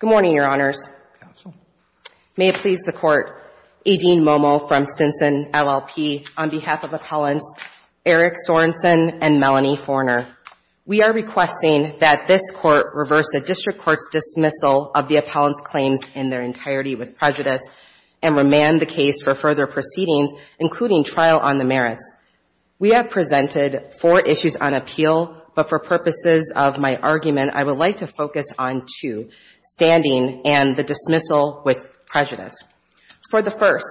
Good morning, Your Honors. May it please the Court, A. Dean Momo from Stinson LLP, on behalf of Appellants Eric Sorenson and Melanie Forner. We are requesting that this Court reverse a district court's dismissal of the appellant's claims in their entirety with prejudice and remand the case for further proceedings, including trial on the merits. We have presented four issues on appeal, but for purposes of my argument, I would like to focus on two, standing and the dismissal with prejudice. For the first,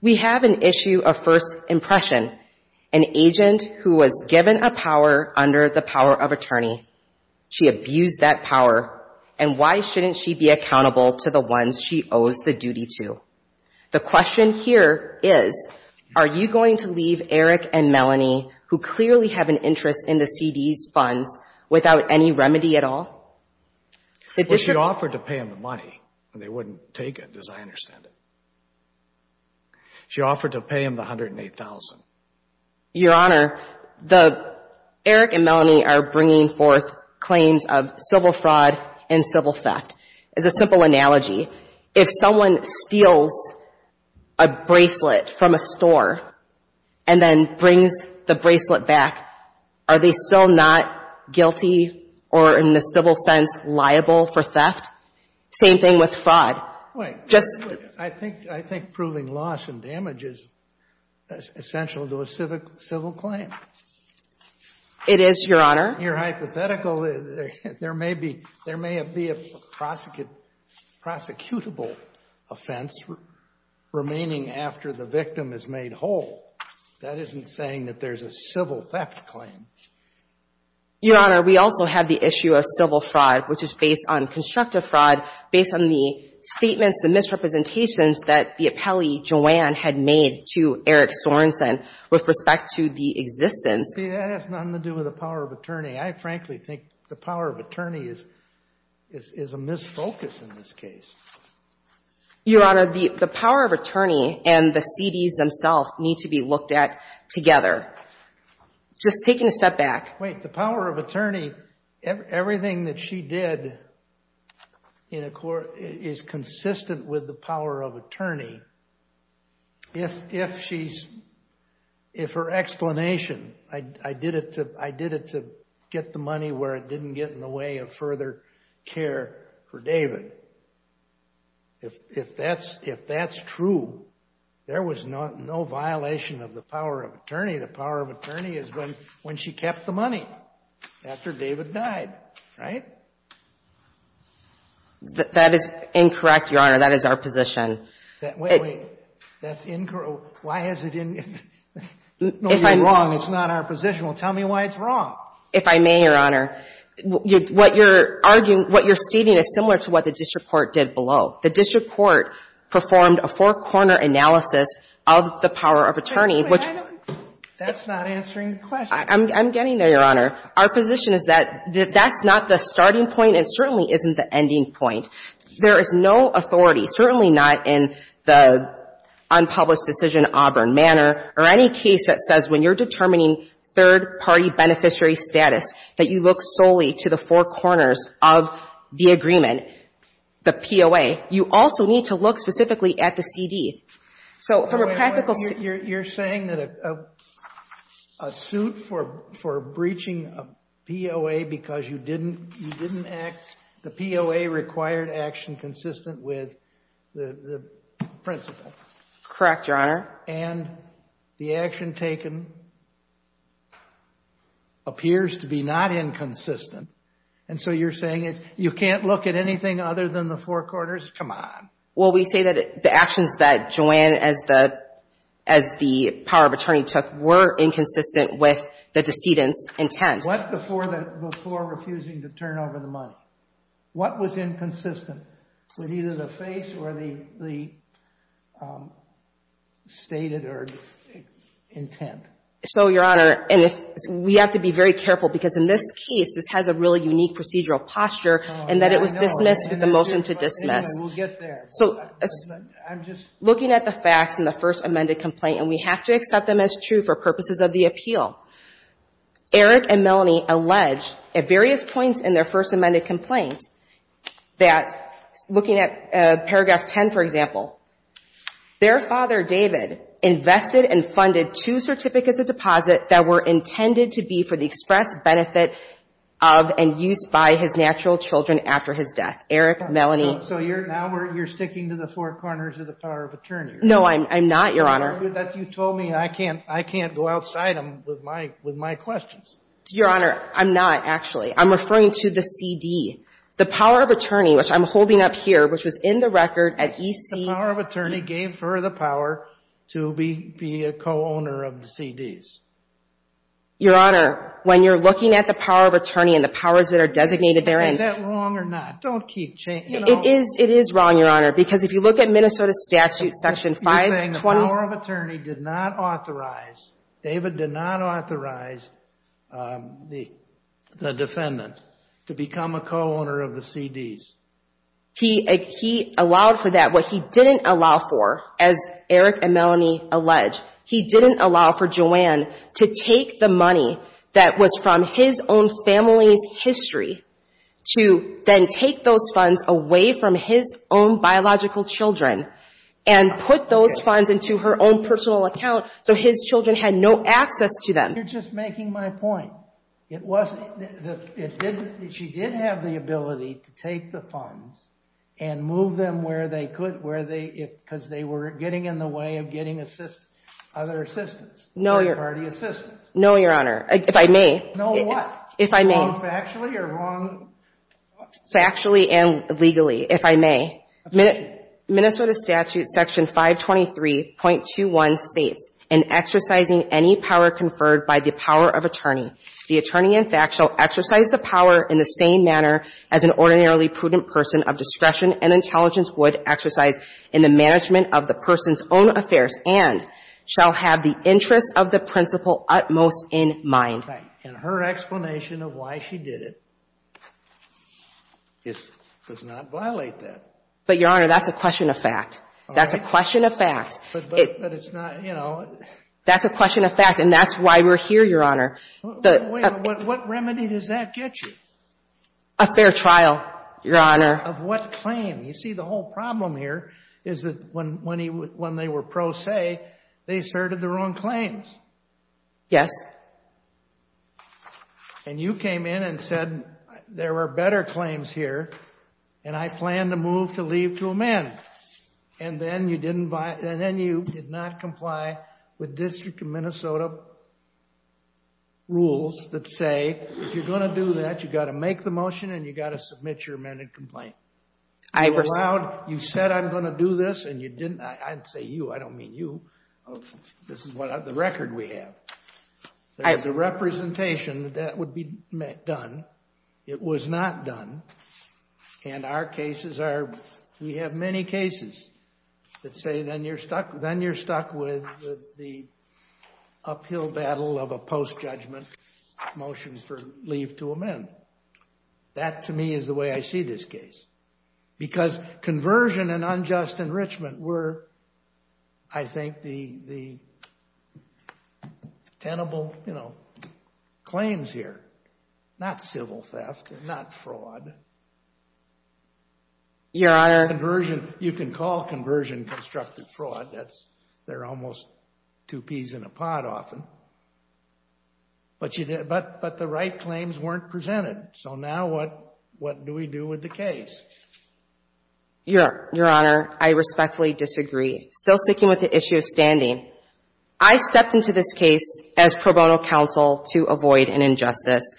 we have an issue of first impression, an agent who was given a power under the power of attorney. She abused that power, and why shouldn't she be accountable to the ones she owes the duty to? The question here is, are you going to leave Eric and Melanie, who clearly have an interest in the C.D.'s funds, without any remedy at all? The district... A. Dean Momo Well, she offered to pay them the money, and they wouldn't take it, as I understand it. She offered to pay them the $108,000. Jodi Slick Your Honor, the... Eric and Melanie are bringing forth claims of civil fraud and civil theft. As a simple analogy, if someone steals a bracelet from a store and then brings the bracelet back, are they still not fraud? Jodi Slick Wait. Jodi Slick I think proving loss and damage is essential to a civil claim. Jodi Slick It is, Your Honor. Jodi Slick Your hypothetical, there may be a prosecutable offense remaining after the victim is made whole. That isn't saying that there's a civil theft claim. Jodi Slick Your Honor, we also have the issue of civil fraud based on the statements, the misrepresentations that the appellee, Joanne, had made to Eric Sorensen with respect to the existence. Eric Sorensen See, that has nothing to do with the power of attorney. I frankly think the power of attorney is a misfocus in this case. Jodi Slick Your Honor, the power of attorney and the C.D.'s themselves need to be looked at together. Just taking a step back... Eric Sorensen Wait, the power of attorney, everything that she did is consistent with the power of attorney. If her explanation, I did it to get the money where it didn't get in the way of further care for David, if that's true, there was no violation of the power of attorney. The power of attorney is when she kept the money after David died, right? Jodi Slick That is incorrect, Your Honor. That is our position. Eric Sorensen Wait, wait. That's incorrect? Why is it incorrect? No, you're wrong. It's not our position. Well, tell me why it's wrong. Jodi Slick If I may, Your Honor, what you're arguing, what you're stating is similar to what the district court did below. The district court performed a four-corner analysis of the power of attorney, which... Eric Sorensen That's not answering the question. Jodi Slick I'm getting there, Your Honor. Our position is that that's not the starting point and certainly isn't the ending point. There is no authority, certainly not in the unpublished decision, Auburn Manor, or any case that says when you're determining third-party beneficiary status, that you look solely to the four corners of the agreement, the POA. You also need to look specifically at the CD. So from a practical... a suit for breaching a POA because you didn't act, the POA required action consistent with the principle. Jodi Slick Correct, Your Honor. Eric Sorensen And the action taken appears to be not inconsistent. And so you're saying you can't look at anything other than the four corners? Come on. Jodi Slick Well, we say that the actions that Joanne, as the power of attorney took, were inconsistent with the decedent's intent. Eric Sorensen What before refusing to turn over the money? What was inconsistent with either the face or the stated or intent? Jodi Slick So, Your Honor, and we have to be very careful because in this case, this has a really unique procedural posture and that it was dismissed with the motion to dismiss. Eric Sorensen We'll get there. Jodi Slick So, looking at the facts in the first amended complaint, and we have to accept them as true for purposes of the appeal, Eric and Melanie allege at various points in their first amended complaint that, looking at paragraph 10, for example, their father, David, invested and funded two certificates of deposit that were intended to be for the express benefit of and use by his natural children after his death. Eric, Melanie... Jodi Slick No, I'm not, Your Honor. Eric Sorensen You told me I can't go outside them with my questions. Jodi Slick Your Honor, I'm not, actually. I'm referring to the CD. The power of attorney, which I'm holding up here, which was in the record at EC... Eric Sorensen The power of attorney gave her the power to be a co-owner of the CDs. Jodi Slick Your Honor, when you're looking at the power of attorney and the powers that are designated therein... Eric Sorensen Is that wrong or not? Don't keep changing... Jodi Slick If you're saying the power of attorney did not authorize... David did not authorize the defendant to become a co-owner of the CDs. Jodi Slick He allowed for that. What he didn't allow for, as Eric and Melanie allege, he didn't allow for Joanne to take the money that was from his own family's history to then take those funds away from his own biological children and put those funds into her own personal account so his children had no access to them. Eric Sorensen You're just making my point. She did have the ability to take the funds and move them where they could because they were getting in the way of getting other assistance, third party assistance. Jodi Slick No, Your Honor. If I may... Eric Sorensen No, what? Jodi Slick If I may... Eric Sorensen Wrong factually or wrong... Jodi Slick Factually and legally, if I may. Minnesota statute section 523.21 states, in exercising any power conferred by the power of attorney, the attorney in fact shall exercise the power in the same manner as an ordinarily prudent person of discretion and intelligence would exercise in the management of the person's own affairs and shall have the interests of the principal utmost in mind. And her explanation of why she did it does not violate that. Jodi Slick But, Your Honor, that's a question of fact. That's a question of fact. Eric Sorensen But it's not, you know... Jodi Slick That's a question of fact and that's why we're here, Your Honor. Eric Sorensen Wait a minute. What remedy does that get you? Jodi Slick A fair trial, Your Honor. Eric Sorensen Of what claim? You see, the whole problem here is that when they were pro se, they asserted their own claims. Jodi Slick Yes. Eric Sorensen And you came in and said there were better claims here and I plan to move to leave to amend. And then you did not comply with District of Minnesota rules that say if you're going to do that, you've got to make the motion and you've got to submit your amended complaint. Jodi Slick I... Eric Sorensen You said I'm going to do this and you didn't. I'd say you. I don't mean you. This is the record we have. There's a representation that that would be done. It was not done. And our cases are, we have many cases that say then you're stuck with the uphill battle of a post-judgment motion for leave to amend. That, to me, is the way I see this case. Because conversion and unjust enrichment were, I think, the tenable claims here. Not civil theft, not fraud. Jodi Slick Yeah, I... Eric Sorensen Conversion, you can call conversion constructive fraud. They're almost two peas in a pod often. But the right claims weren't presented. So now what do we do with the case? Jodi Slick Your Honor, I respectfully disagree. Still sticking with the issue of standing. I stepped into this case as pro bono counsel to avoid an injustice.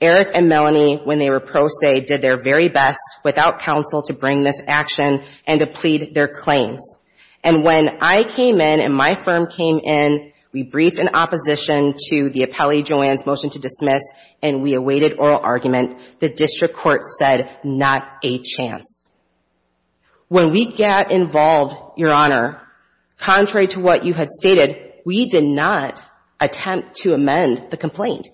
Eric and Melanie, when they were pro se, did their very best without counsel to bring this action and to plead their claims. And when I came in and my firm came in, we briefed in opposition to the appellee Joanne's to dismiss, and we awaited oral argument. The district court said, not a chance. When we got involved, Your Honor, contrary to what you had stated, we did not attempt to amend the complaint.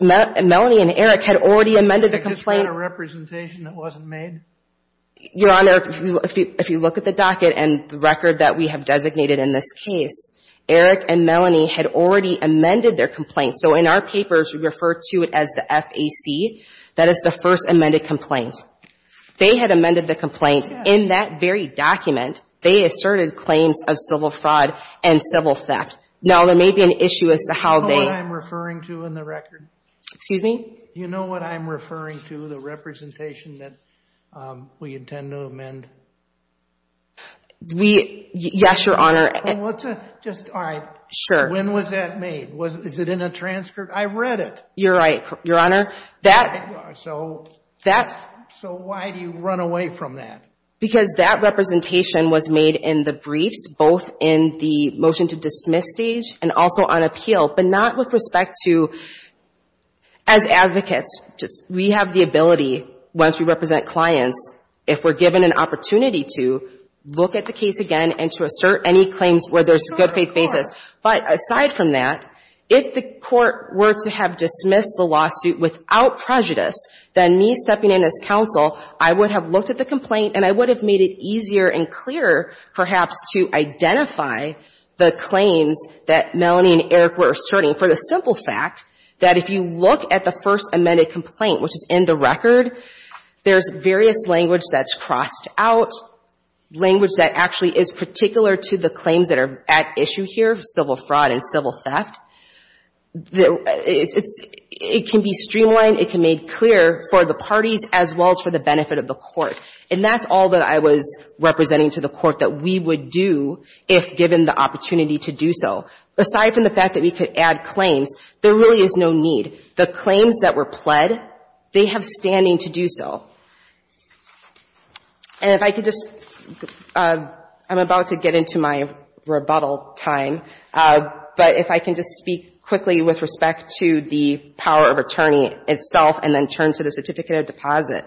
Melanie and Eric had already amended the complaint. Eric I just had a representation that wasn't made. Jodi Slick Your Honor, if you look at the docket and the record that we have designated in this case, Eric and Melanie had already amended their complaint. So in our papers, we refer to it as the FAC. That is the First Amended Complaint. They had amended the complaint. In that very document, they asserted claims of civil fraud and civil theft. Now, there may be an issue as to how they — Eric You know what I'm referring to in the record? Jodi Slick Excuse me? Eric You know what I'm referring to, the representation that we intend to amend? Jodi Slick Yes, Your Honor. Eric Well, what's a — just — all right. Jodi Slick Sure. Eric When was that made? Is it in a transcript? I read it. Jodi Slick You're right, Your Honor. Eric So why do you run away from that? Jodi Slick Because that representation was made in the briefs, both in the motion to dismiss stage and also on appeal, but not with respect to — as advocates, we have the ability, once we represent clients, if we're given an opportunity to look at the case again and to assert any claims where there's good faith basis. But aside from that, if the court were to have dismissed the lawsuit without prejudice, then me stepping in as counsel, I would have looked at the complaint and I would have made it easier and clearer, perhaps, to identify the claims that Melanie and Eric were asserting. For the simple fact that if you look at the first amended complaint, which is in the record, there's various language that's crossed out, language that actually is particular to the claims that are at issue here, civil fraud and civil theft. It can be streamlined. It can be made clear for the parties as well as for the benefit of the court. And that's all that I was representing to the court that we would do if given the opportunity to do so. Aside from the fact that we could add claims, there really is no need. The claims that were pled, they have standing to do so. And if I could just, I'm about to get into my rebuttal time, but if I can just speak quickly with respect to the power of attorney itself and then turn to the certificate of deposit.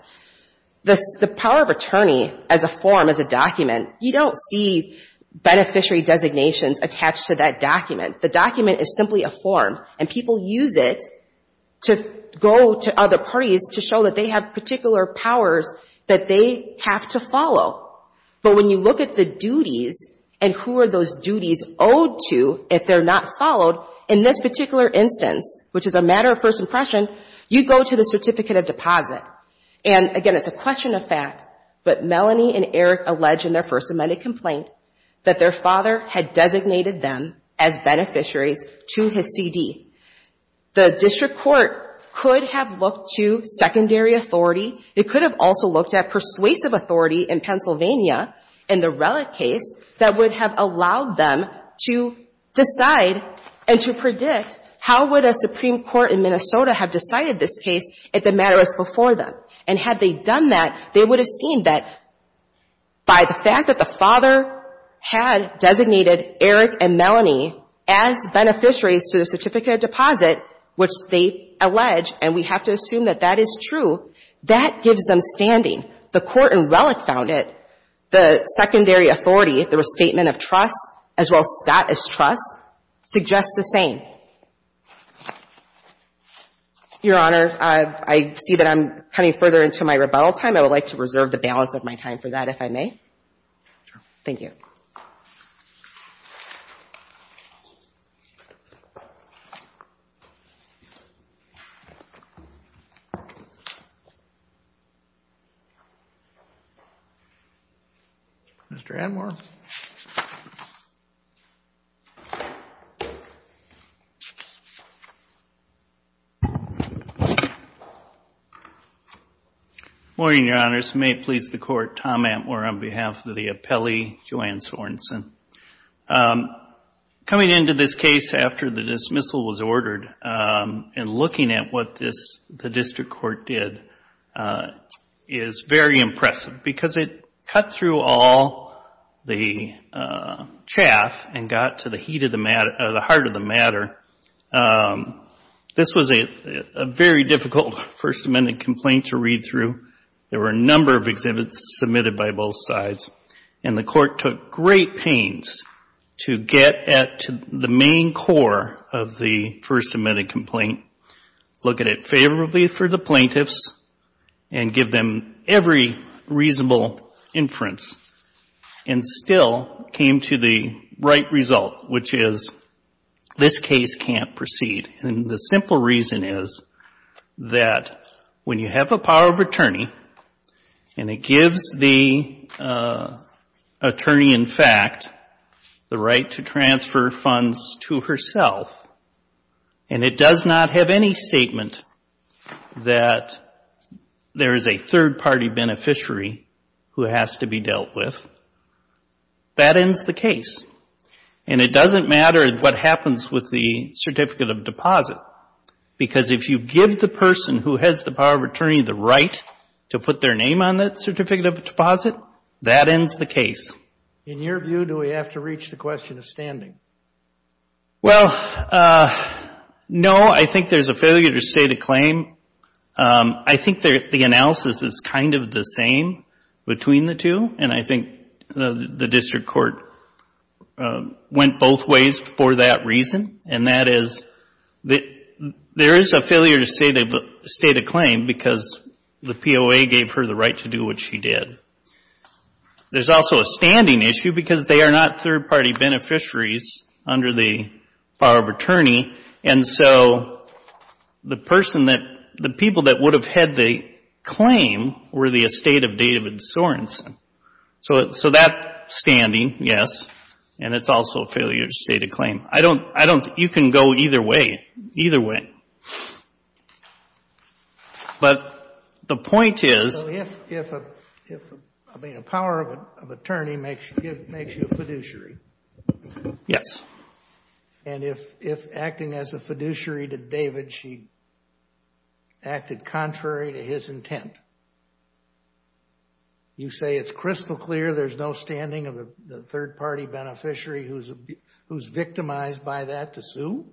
The power of attorney as a form, as a document, you don't see beneficiary designations attached to that document. The document is simply a form and people use it to go to other parties to show that they have particular powers that they have to follow. But when you look at the duties and who are those duties owed to if they're not followed, in this particular instance, which is a matter of first impression, you go to the certificate of deposit. And again, it's a question of fact, but Melanie and Eric allege in their First Amendment complaint that their father had designated them as beneficiaries to his CD. The district court could have looked to secondary authority. It could have also looked at persuasive authority in Pennsylvania in the Relic case that would have allowed them to decide and to predict how would a Supreme Court in Minnesota have decided this case if the matter was before them. And had they done that, they would have seen that by the fact that the father had designated Eric and Melanie as beneficiaries to the certificate of deposit, which they allege, and we have to assume that that is true, that gives them standing. The court in Relic found it. The secondary authority, the restatement of trust, as well as Scott as trust, suggests the same. Your Honor, I see that I'm cutting further into my rebuttal time. I would like to reserve the balance of my time for that, if I may. Thank you. Mr. Atmore. Morning, Your Honors. May it please the Court, Tom Atmore on behalf of the appellee, Joanne Sorenson. Coming into this case after the dismissal was ordered and looking at what the district court did is very impressive because it cut through all the chaff and got to the heart of the matter. This was a very difficult First Amendment complaint to read through. There were a number of exhibits submitted by both sides, and the court took great pains to get at the main core of the First Amendment complaint, look at it favorably for the plaintiffs, and give them every reasonable inference, and still came to the right result, which is this case can't proceed. And the simple reason is that when you have a power of attorney and it gives the attorney, in fact, the right to transfer funds to herself, and it does not have any statement that there is a third party beneficiary who has to be dealt with, that ends the case. And it doesn't matter what happens with the certificate of deposit because if you give the person who has the power of attorney the right to put their name on that certificate of deposit, that ends the case. In your view, do we have to reach the question of standing? Well, no, I think there's a failure to state a claim. I think the analysis is kind of the same between the two, and I think the district court went both ways for that reason, and that is there is a failure to state a claim because the POA gave her the right to do what she did. There's also a standing issue because they are not third party beneficiaries under the power of attorney, and so the person that the people that would have had the claim were the estate of David Sorenson. So that standing, yes, and it's also a failure to state a claim. You can go either way, either way. So if a power of attorney makes you a fiduciary, and if acting as a fiduciary to David she acted contrary to his intent, you say it's crystal clear there's no standing of a third party beneficiary who's victimized by that to sue?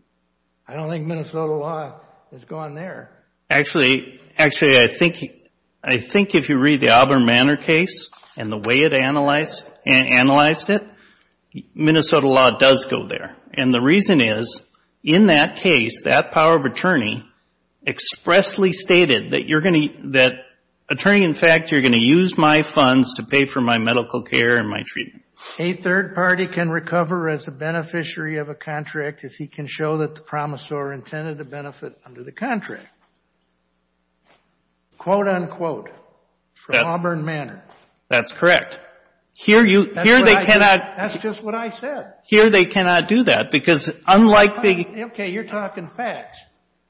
I don't think Minnesota law has gone there. Actually, I think if you read the Auburn Manor case and the way it analyzed it, Minnesota law does go there, and the reason is in that case, that power of attorney expressly stated that attorney, in fact, you're going to use my funds to pay for my medical care and my treatment. A third party can recover as a beneficiary of a contract if he can show that the promisor intended to benefit under the contract. Quote, unquote, from Auburn Manor. That's correct. Here they cannot. That's just what I said. Here they cannot do that because unlike the. Okay, you're talking facts.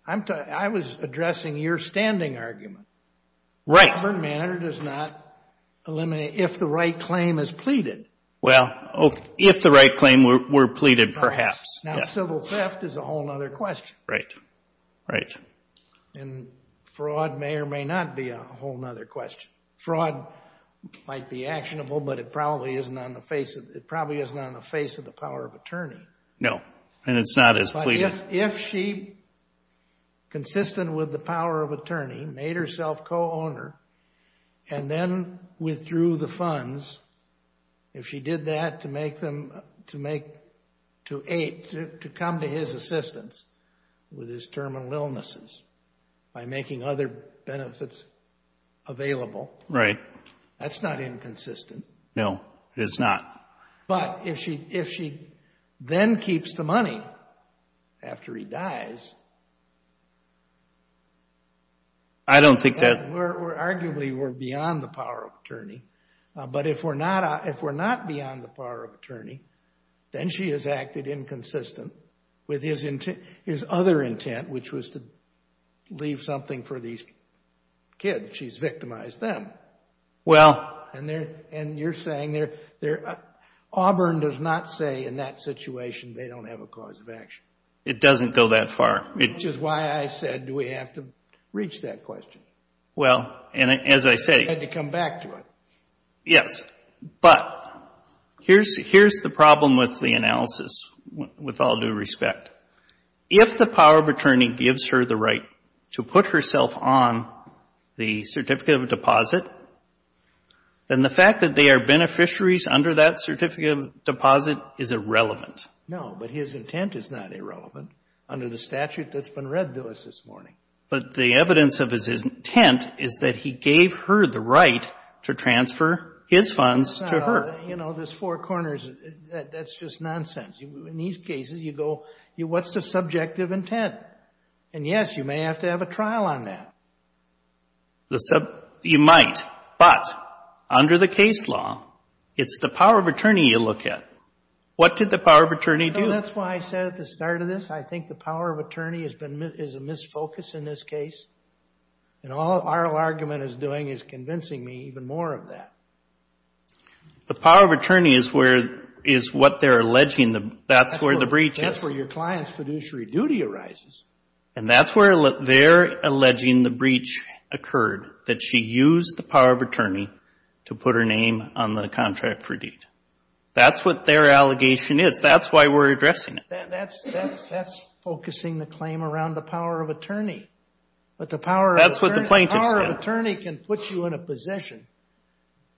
I was addressing your standing argument. Right. Auburn Manor does not eliminate if the right claim is pleaded. Well, if the right claim were pleaded, perhaps. Now, civil theft is a whole other question. Right, right. And fraud may or may not be a whole other question. Fraud might be actionable, but it probably isn't on the face of the power of attorney. No, and it's not as pleaded. If she, consistent with the power of attorney, made herself co-owner and then withdrew the money, she did that to make them, to make, to come to his assistance with his terminal illnesses by making other benefits available. Right. That's not inconsistent. No, it's not. But if she then keeps the money after he dies. I don't think that. Arguably, we're beyond the power of attorney. But if we're not beyond the power of attorney, then she has acted inconsistent with his other intent, which was to leave something for these kids. She's victimized them. Well. And you're saying Auburn does not say in that situation they don't have a cause of action. It doesn't go that far. Which is why I said, do we have to reach that question? Well, and as I say. You had to come back to it. Yes, but here's the problem with the analysis, with all due respect. If the power of attorney gives her the right to put herself on the certificate of deposit, then the fact that they are beneficiaries under that certificate of deposit is irrelevant. No, but his intent is not irrelevant under the statute that's been read to us this morning. But the evidence of his intent is that he gave her the right to transfer his funds to her. You know, there's four corners. That's just nonsense. In these cases, you go, what's the subjective intent? And yes, you may have to have a trial on that. You might. But under the case law, it's the power of attorney you look at. What did the power of attorney do? That's why I said at the start of this. I think the power of attorney is a misfocus in this case. And all our argument is doing is convincing me even more of that. The power of attorney is what they're alleging. That's where the breach is. That's where your client's fiduciary duty arises. And that's where they're alleging the breach occurred. That she used the power of attorney to put her name on the contract for deed. That's what their allegation is. That's why we're addressing it. That's focusing the claim around the power of attorney. But the power of attorney can put you in a position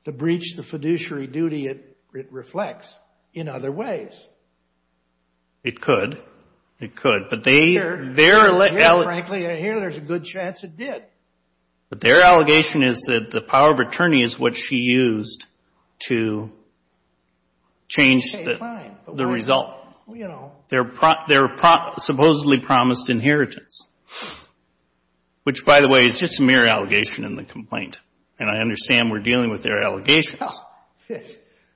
to breach the fiduciary duty it reflects in other ways. It could. It could. But their allegation is that the power of attorney is what she used to change the result. Their supposedly promised inheritance. Which, by the way, is just a mere allegation in the complaint. And I understand we're dealing with their allegations.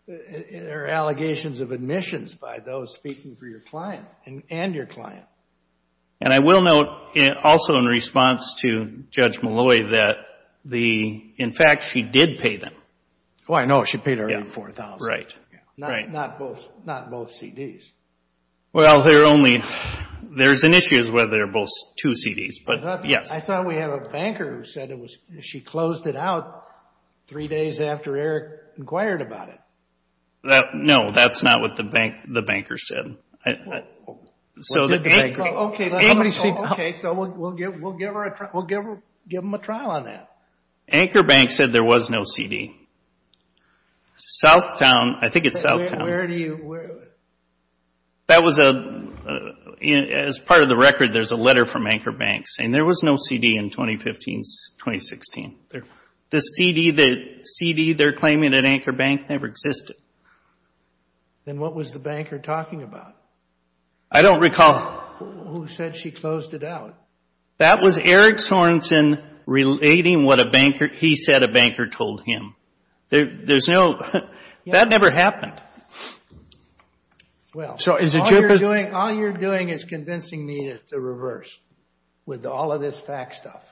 They're allegations of admissions by those speaking for your client and your client. And I will note also in response to Judge Malloy that in fact she did pay them. Oh, I know. She paid her $4,000. Right. Not both CDs. Well, there's an issue as whether they're both two CDs. But yes. I thought we had a banker who said she closed it out three days after Eric inquired about it. No, that's not what the banker said. OK, so we'll give them a trial on that. Anchor Bank said there was no CD. Southtown. I think it's Southtown. Where do you, where? That was a, as part of the record, there's a letter from Anchor Bank saying there was no CD in 2015, 2016. The CD they're claiming at Anchor Bank never existed. Then what was the banker talking about? I don't recall. Who said she closed it out? That was Eric Sorensen relating what a banker, he said a banker told him. There's no, that never happened. Well, all you're doing is convincing me that it's the reverse with all of this fact stuff.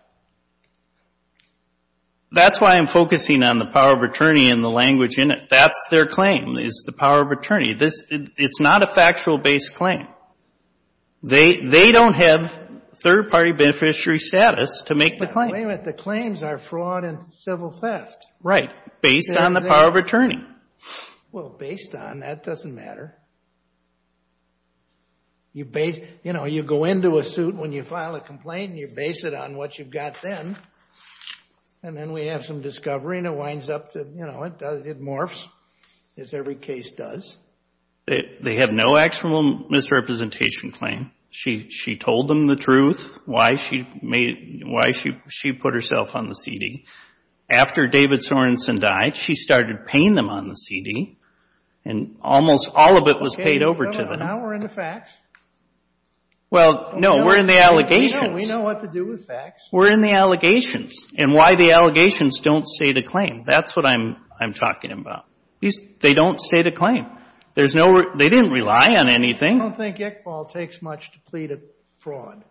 That's why I'm focusing on the power of attorney and the language in it. That's their claim is the power of attorney. It's not a factual based claim. They don't have third party beneficiary status to make the claim. But wait a minute, the claims are fraud and civil theft. Right. Based on the power of attorney. Well, based on, that doesn't matter. You base, you know, you go into a suit when you file a complaint and you base it on what you've got then. And then we have some discovery and it winds up to, you know, it morphs as every case does. They have no actual misrepresentation claim. She told them the truth, why she made, why she put herself on the CD. After David Sorensen died, she started paying them on the CD. And almost all of it was paid over to them. Now we're in the facts. Well, no, we're in the allegations. We know what to do with facts. We're in the allegations and why the allegations don't state a claim. That's what I'm talking about. They don't state a claim. There's no, they didn't rely on anything. I don't think Iqbal takes much to plead a fraud.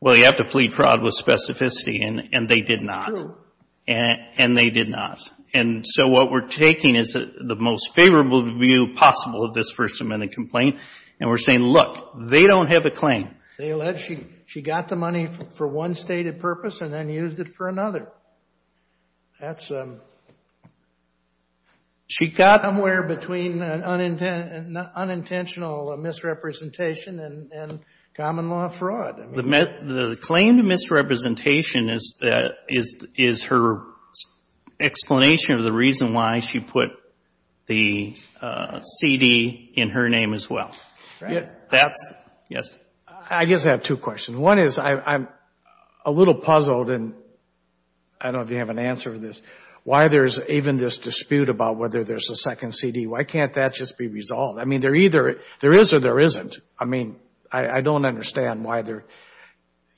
Well, you have to plead fraud with specificity and they did not. And they did not. And so what we're taking is the most favorable view possible of this First Amendment complaint. And we're saying, look, they don't have a claim. They alleged she got the money for one stated purpose and then used it for another. That's, she got somewhere between unintentional misrepresentation and common law fraud. The claim to misrepresentation is her explanation of the reason why she put the CD in her name as well. Yes. I guess I have two questions. One is I'm a little puzzled and I don't know if you have an answer to this, why there's even this dispute about whether there's a second CD. Why can't that just be resolved? I mean, they're either, there is or there isn't. I mean, I don't understand why they're,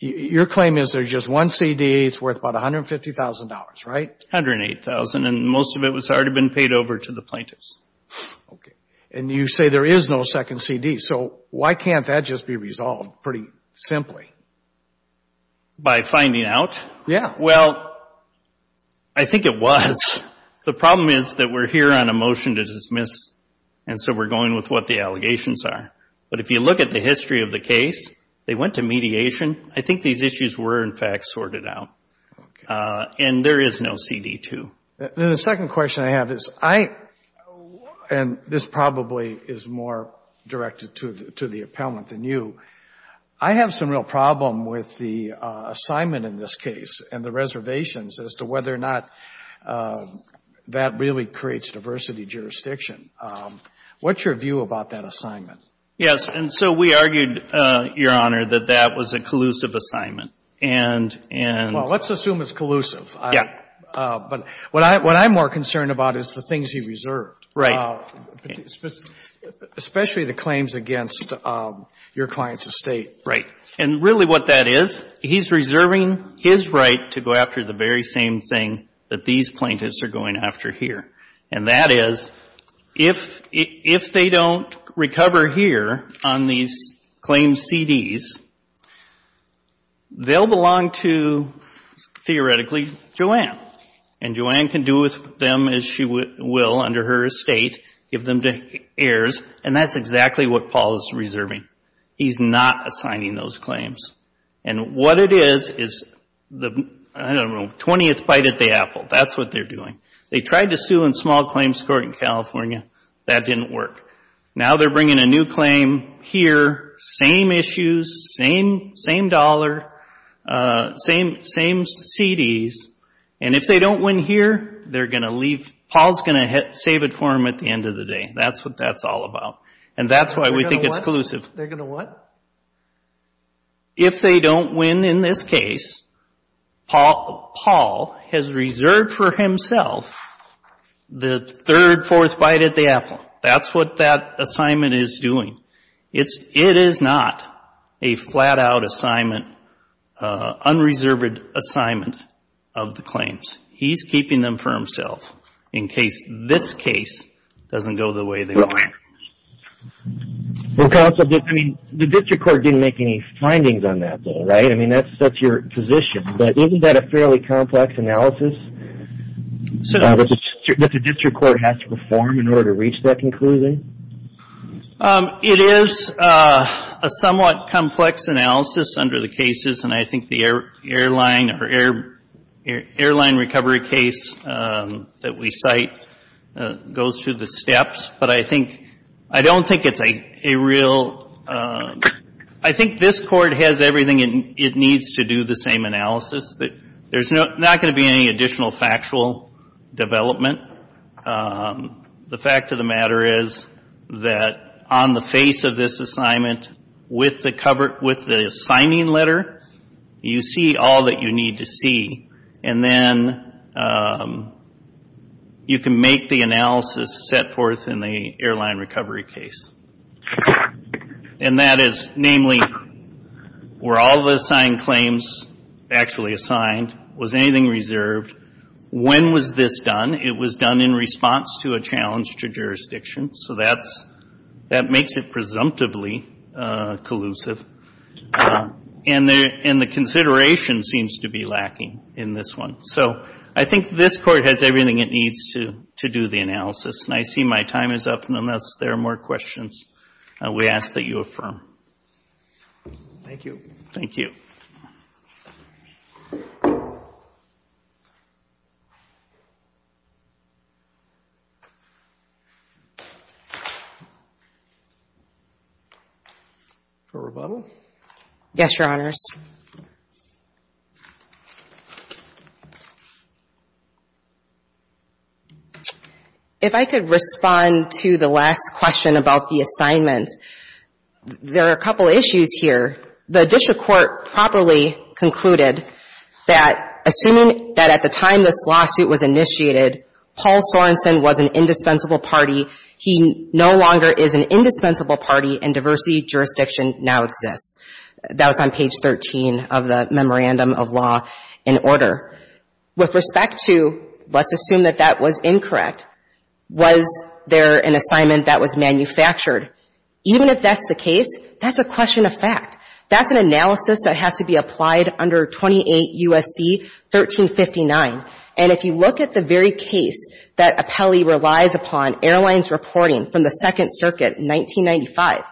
your claim is there's just one CD, it's worth about $150,000, right? $108,000. And most of it has already been paid over to the plaintiffs. Okay. And you say there is no second CD. So why can't that just be resolved pretty simply? By finding out? Yeah. Well, I think it was. The problem is that we're here on a motion to dismiss. And so we're going with what the allegations are. But if you look at the history of the case, they went to mediation. I think these issues were, in fact, sorted out. And there is no CD too. Then the second question I have is I, and this probably is more directed to the appellant than you. I have some real problem with the assignment in this case and the reservations as to whether or not that really creates diversity jurisdiction. What's your view about that assignment? Yes. And so we argued, Your Honor, that that was a collusive assignment. Well, let's assume it's collusive. Yeah. But what I'm more concerned about is the things he reserved. Right. Especially the claims against your client's estate. Right. And really what that is, he's reserving his right to go after the very same thing that these plaintiffs are going after here. And that is, if they don't recover here on these claims CDs, they'll belong to, theoretically, Joanne. And Joanne can do with them as she will under her estate, give them to heirs. And that's exactly what Paul is reserving. He's not assigning those claims. And what it is, is the, I don't know, 20th bite at the apple. That's what they're doing. They tried to sue in small claims court in California. That didn't work. Now they're bringing a new claim here, same issues, same dollar, same CDs. And if they don't win here, they're going to leave. Paul's going to save it for them at the end of the day. That's what that's all about. And that's why we think it's collusive. They're going to what? If they don't win in this case, Paul has reserved for himself the third, fourth bite at the apple. That's what that assignment is doing. It is not a flat-out assignment, unreserved assignment of the claims. He's keeping them for himself in case this case doesn't go the way they want. Well, counsel, I mean, the district court didn't make any findings on that, though, right? I mean, that's your position. But isn't that a fairly complex analysis that the district court has to perform in order to reach that conclusion? It is a somewhat complex analysis under the cases. And I think the airline or airline recovery case that we cite goes through the steps. But I think, I don't think it's a real, I think this court has everything it needs to do the same analysis. There's not going to be any additional factual development. The fact of the matter is that on the face of this assignment, with the cover, with the signing letter, you see all that you need to see. And then you can make the analysis set forth in the airline recovery case. And that is, namely, were all the assigned claims actually assigned? Was anything reserved? When was this done? It was done in response to a challenge to jurisdiction. So that's, that makes it presumptively collusive. And the consideration seems to be lacking in this one. So I think this court has everything it needs to do the analysis. And I see my time is up. And unless there are more questions, we ask that you affirm. Thank you. Thank you. Yes, Your Honors. If I could respond to the last question about the assignment. There are a couple issues here. The district court properly concluded that, assuming that at the time this lawsuit was initiated, Paul Sorensen was an indispensable party. He no longer is an indispensable party, and diversity jurisdiction now exists. That was on page 13 of the Memorandum of Law and Order. With respect to, let's assume that that was incorrect, was there an assignment that was manufactured? Even if that's the case, that's a question of fact. That's an analysis that has to be applied under 28 U.S.C. 1359. And if you look at the very case that Apelli relies upon airlines reporting from the Second Circuit in 1995,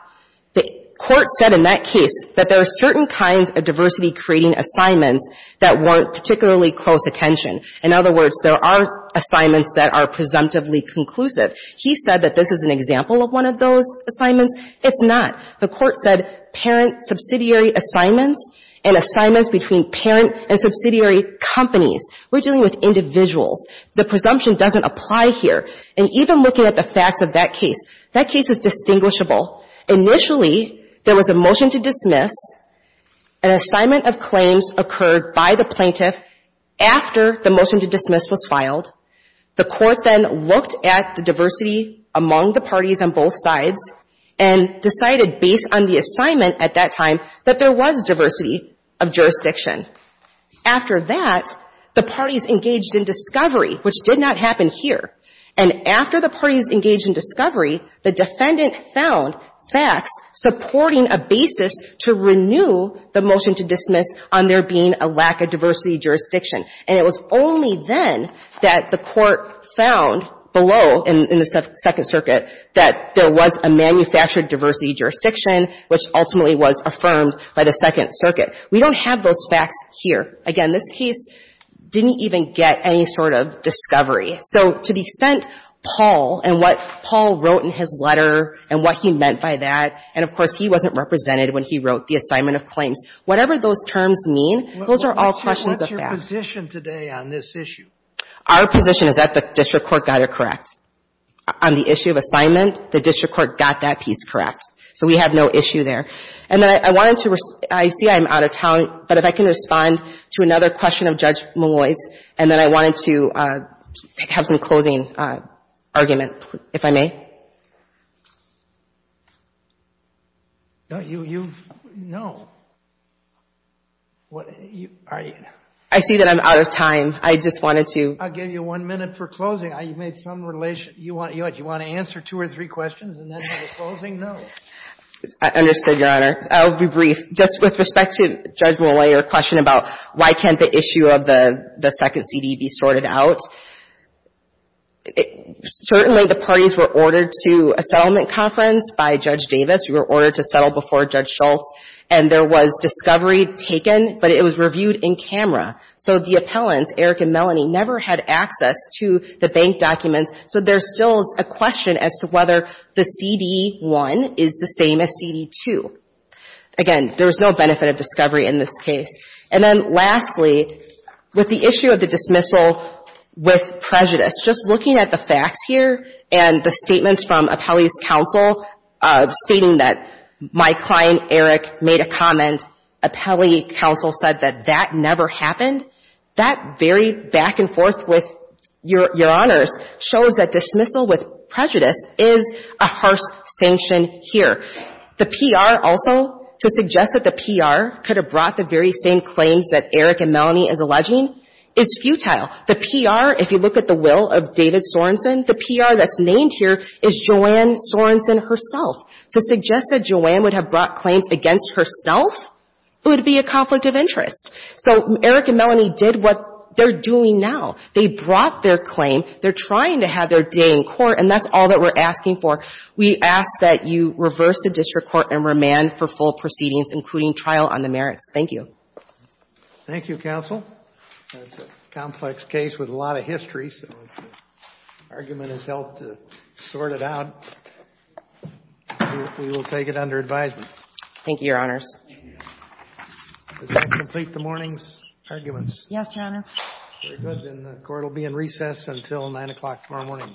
the court said in that case that there are certain kinds of diversity creating assignments that weren't particularly close attention. In other words, there are assignments that are presumptively conclusive. He said that this is an example of one of those assignments. It's not. The court said parent subsidiary assignments and assignments between parent and subsidiary companies. We're dealing with individuals. The presumption doesn't apply here. And even looking at the facts of that case, that case is distinguishable. Initially, there was a motion to dismiss. An assignment of claims occurred by the plaintiff after the motion to dismiss was filed. The court then looked at the diversity among the parties on both sides and decided based on the assignment at that time that there was diversity of jurisdiction. After that, the parties engaged in discovery, which did not happen here. And after the parties engaged in discovery, the defendant found facts supporting a basis to renew the motion to dismiss on there being a lack of diversity jurisdiction. And it was only then that the court found below in the Second Circuit that there was a manufactured diversity of jurisdiction, which ultimately was affirmed by the Second Circuit. We don't have those facts here. Again, this case didn't even get any sort of discovery. So to the extent Paul and what Paul wrote in his letter and what he meant by that, and, of course, he wasn't represented when he wrote the assignment of claims, whatever those terms mean, those are all questions of facts. And what's your position today on this issue? Our position is that the district court got it correct. On the issue of assignment, the district court got that piece correct. So we have no issue there. And then I wanted to respond. I see I'm out of town. But if I can respond to another question of Judge Malloy's and then I wanted to have some closing argument, if I may. You've no. What are you. I see that I'm out of time. I just wanted to. I'll give you one minute for closing. You made some relation. You want to answer two or three questions and then do the closing? No. I understood, Your Honor. I'll be brief. Just with respect to Judge Malloy, your question about why can't the issue of the second CD be sorted out. Certainly the parties were ordered to a settlement conference by Judge Davis. We were ordered to settle before Judge Schultz. And there was discovery taken, but it was reviewed in camera. So the appellants, Eric and Melanie, never had access to the bank documents. So there's still a question as to whether the CD1 is the same as CD2. Again, there was no benefit of discovery in this case. And then lastly, with the issue of the dismissal with prejudice, just looking at the facts and the statements from appellee's counsel stating that my client Eric made a comment, appellee counsel said that that never happened, that very back and forth with your honors shows that dismissal with prejudice is a harsh sanction here. The PR also, to suggest that the PR could have brought the very same claims that Eric and Melanie is alleging, is futile. The PR, if you look at the will of David Sorensen, the PR that's named here is Joanne Sorensen herself. To suggest that Joanne would have brought claims against herself would be a conflict of interest. So Eric and Melanie did what they're doing now. They brought their claim. They're trying to have their day in court. And that's all that we're asking for. We ask that you reverse the district court and remand for full proceedings, including trial on the merits. Thank you. Thank you, counsel. That's a complex case with a lot of history, so if the argument has helped to sort it out, we will take it under advisement. Thank you, your honors. Thank you. Does that complete the morning's arguments? Yes, your honors. Very good. Then the court will be in recess until 9 o'clock tomorrow morning. Thank you.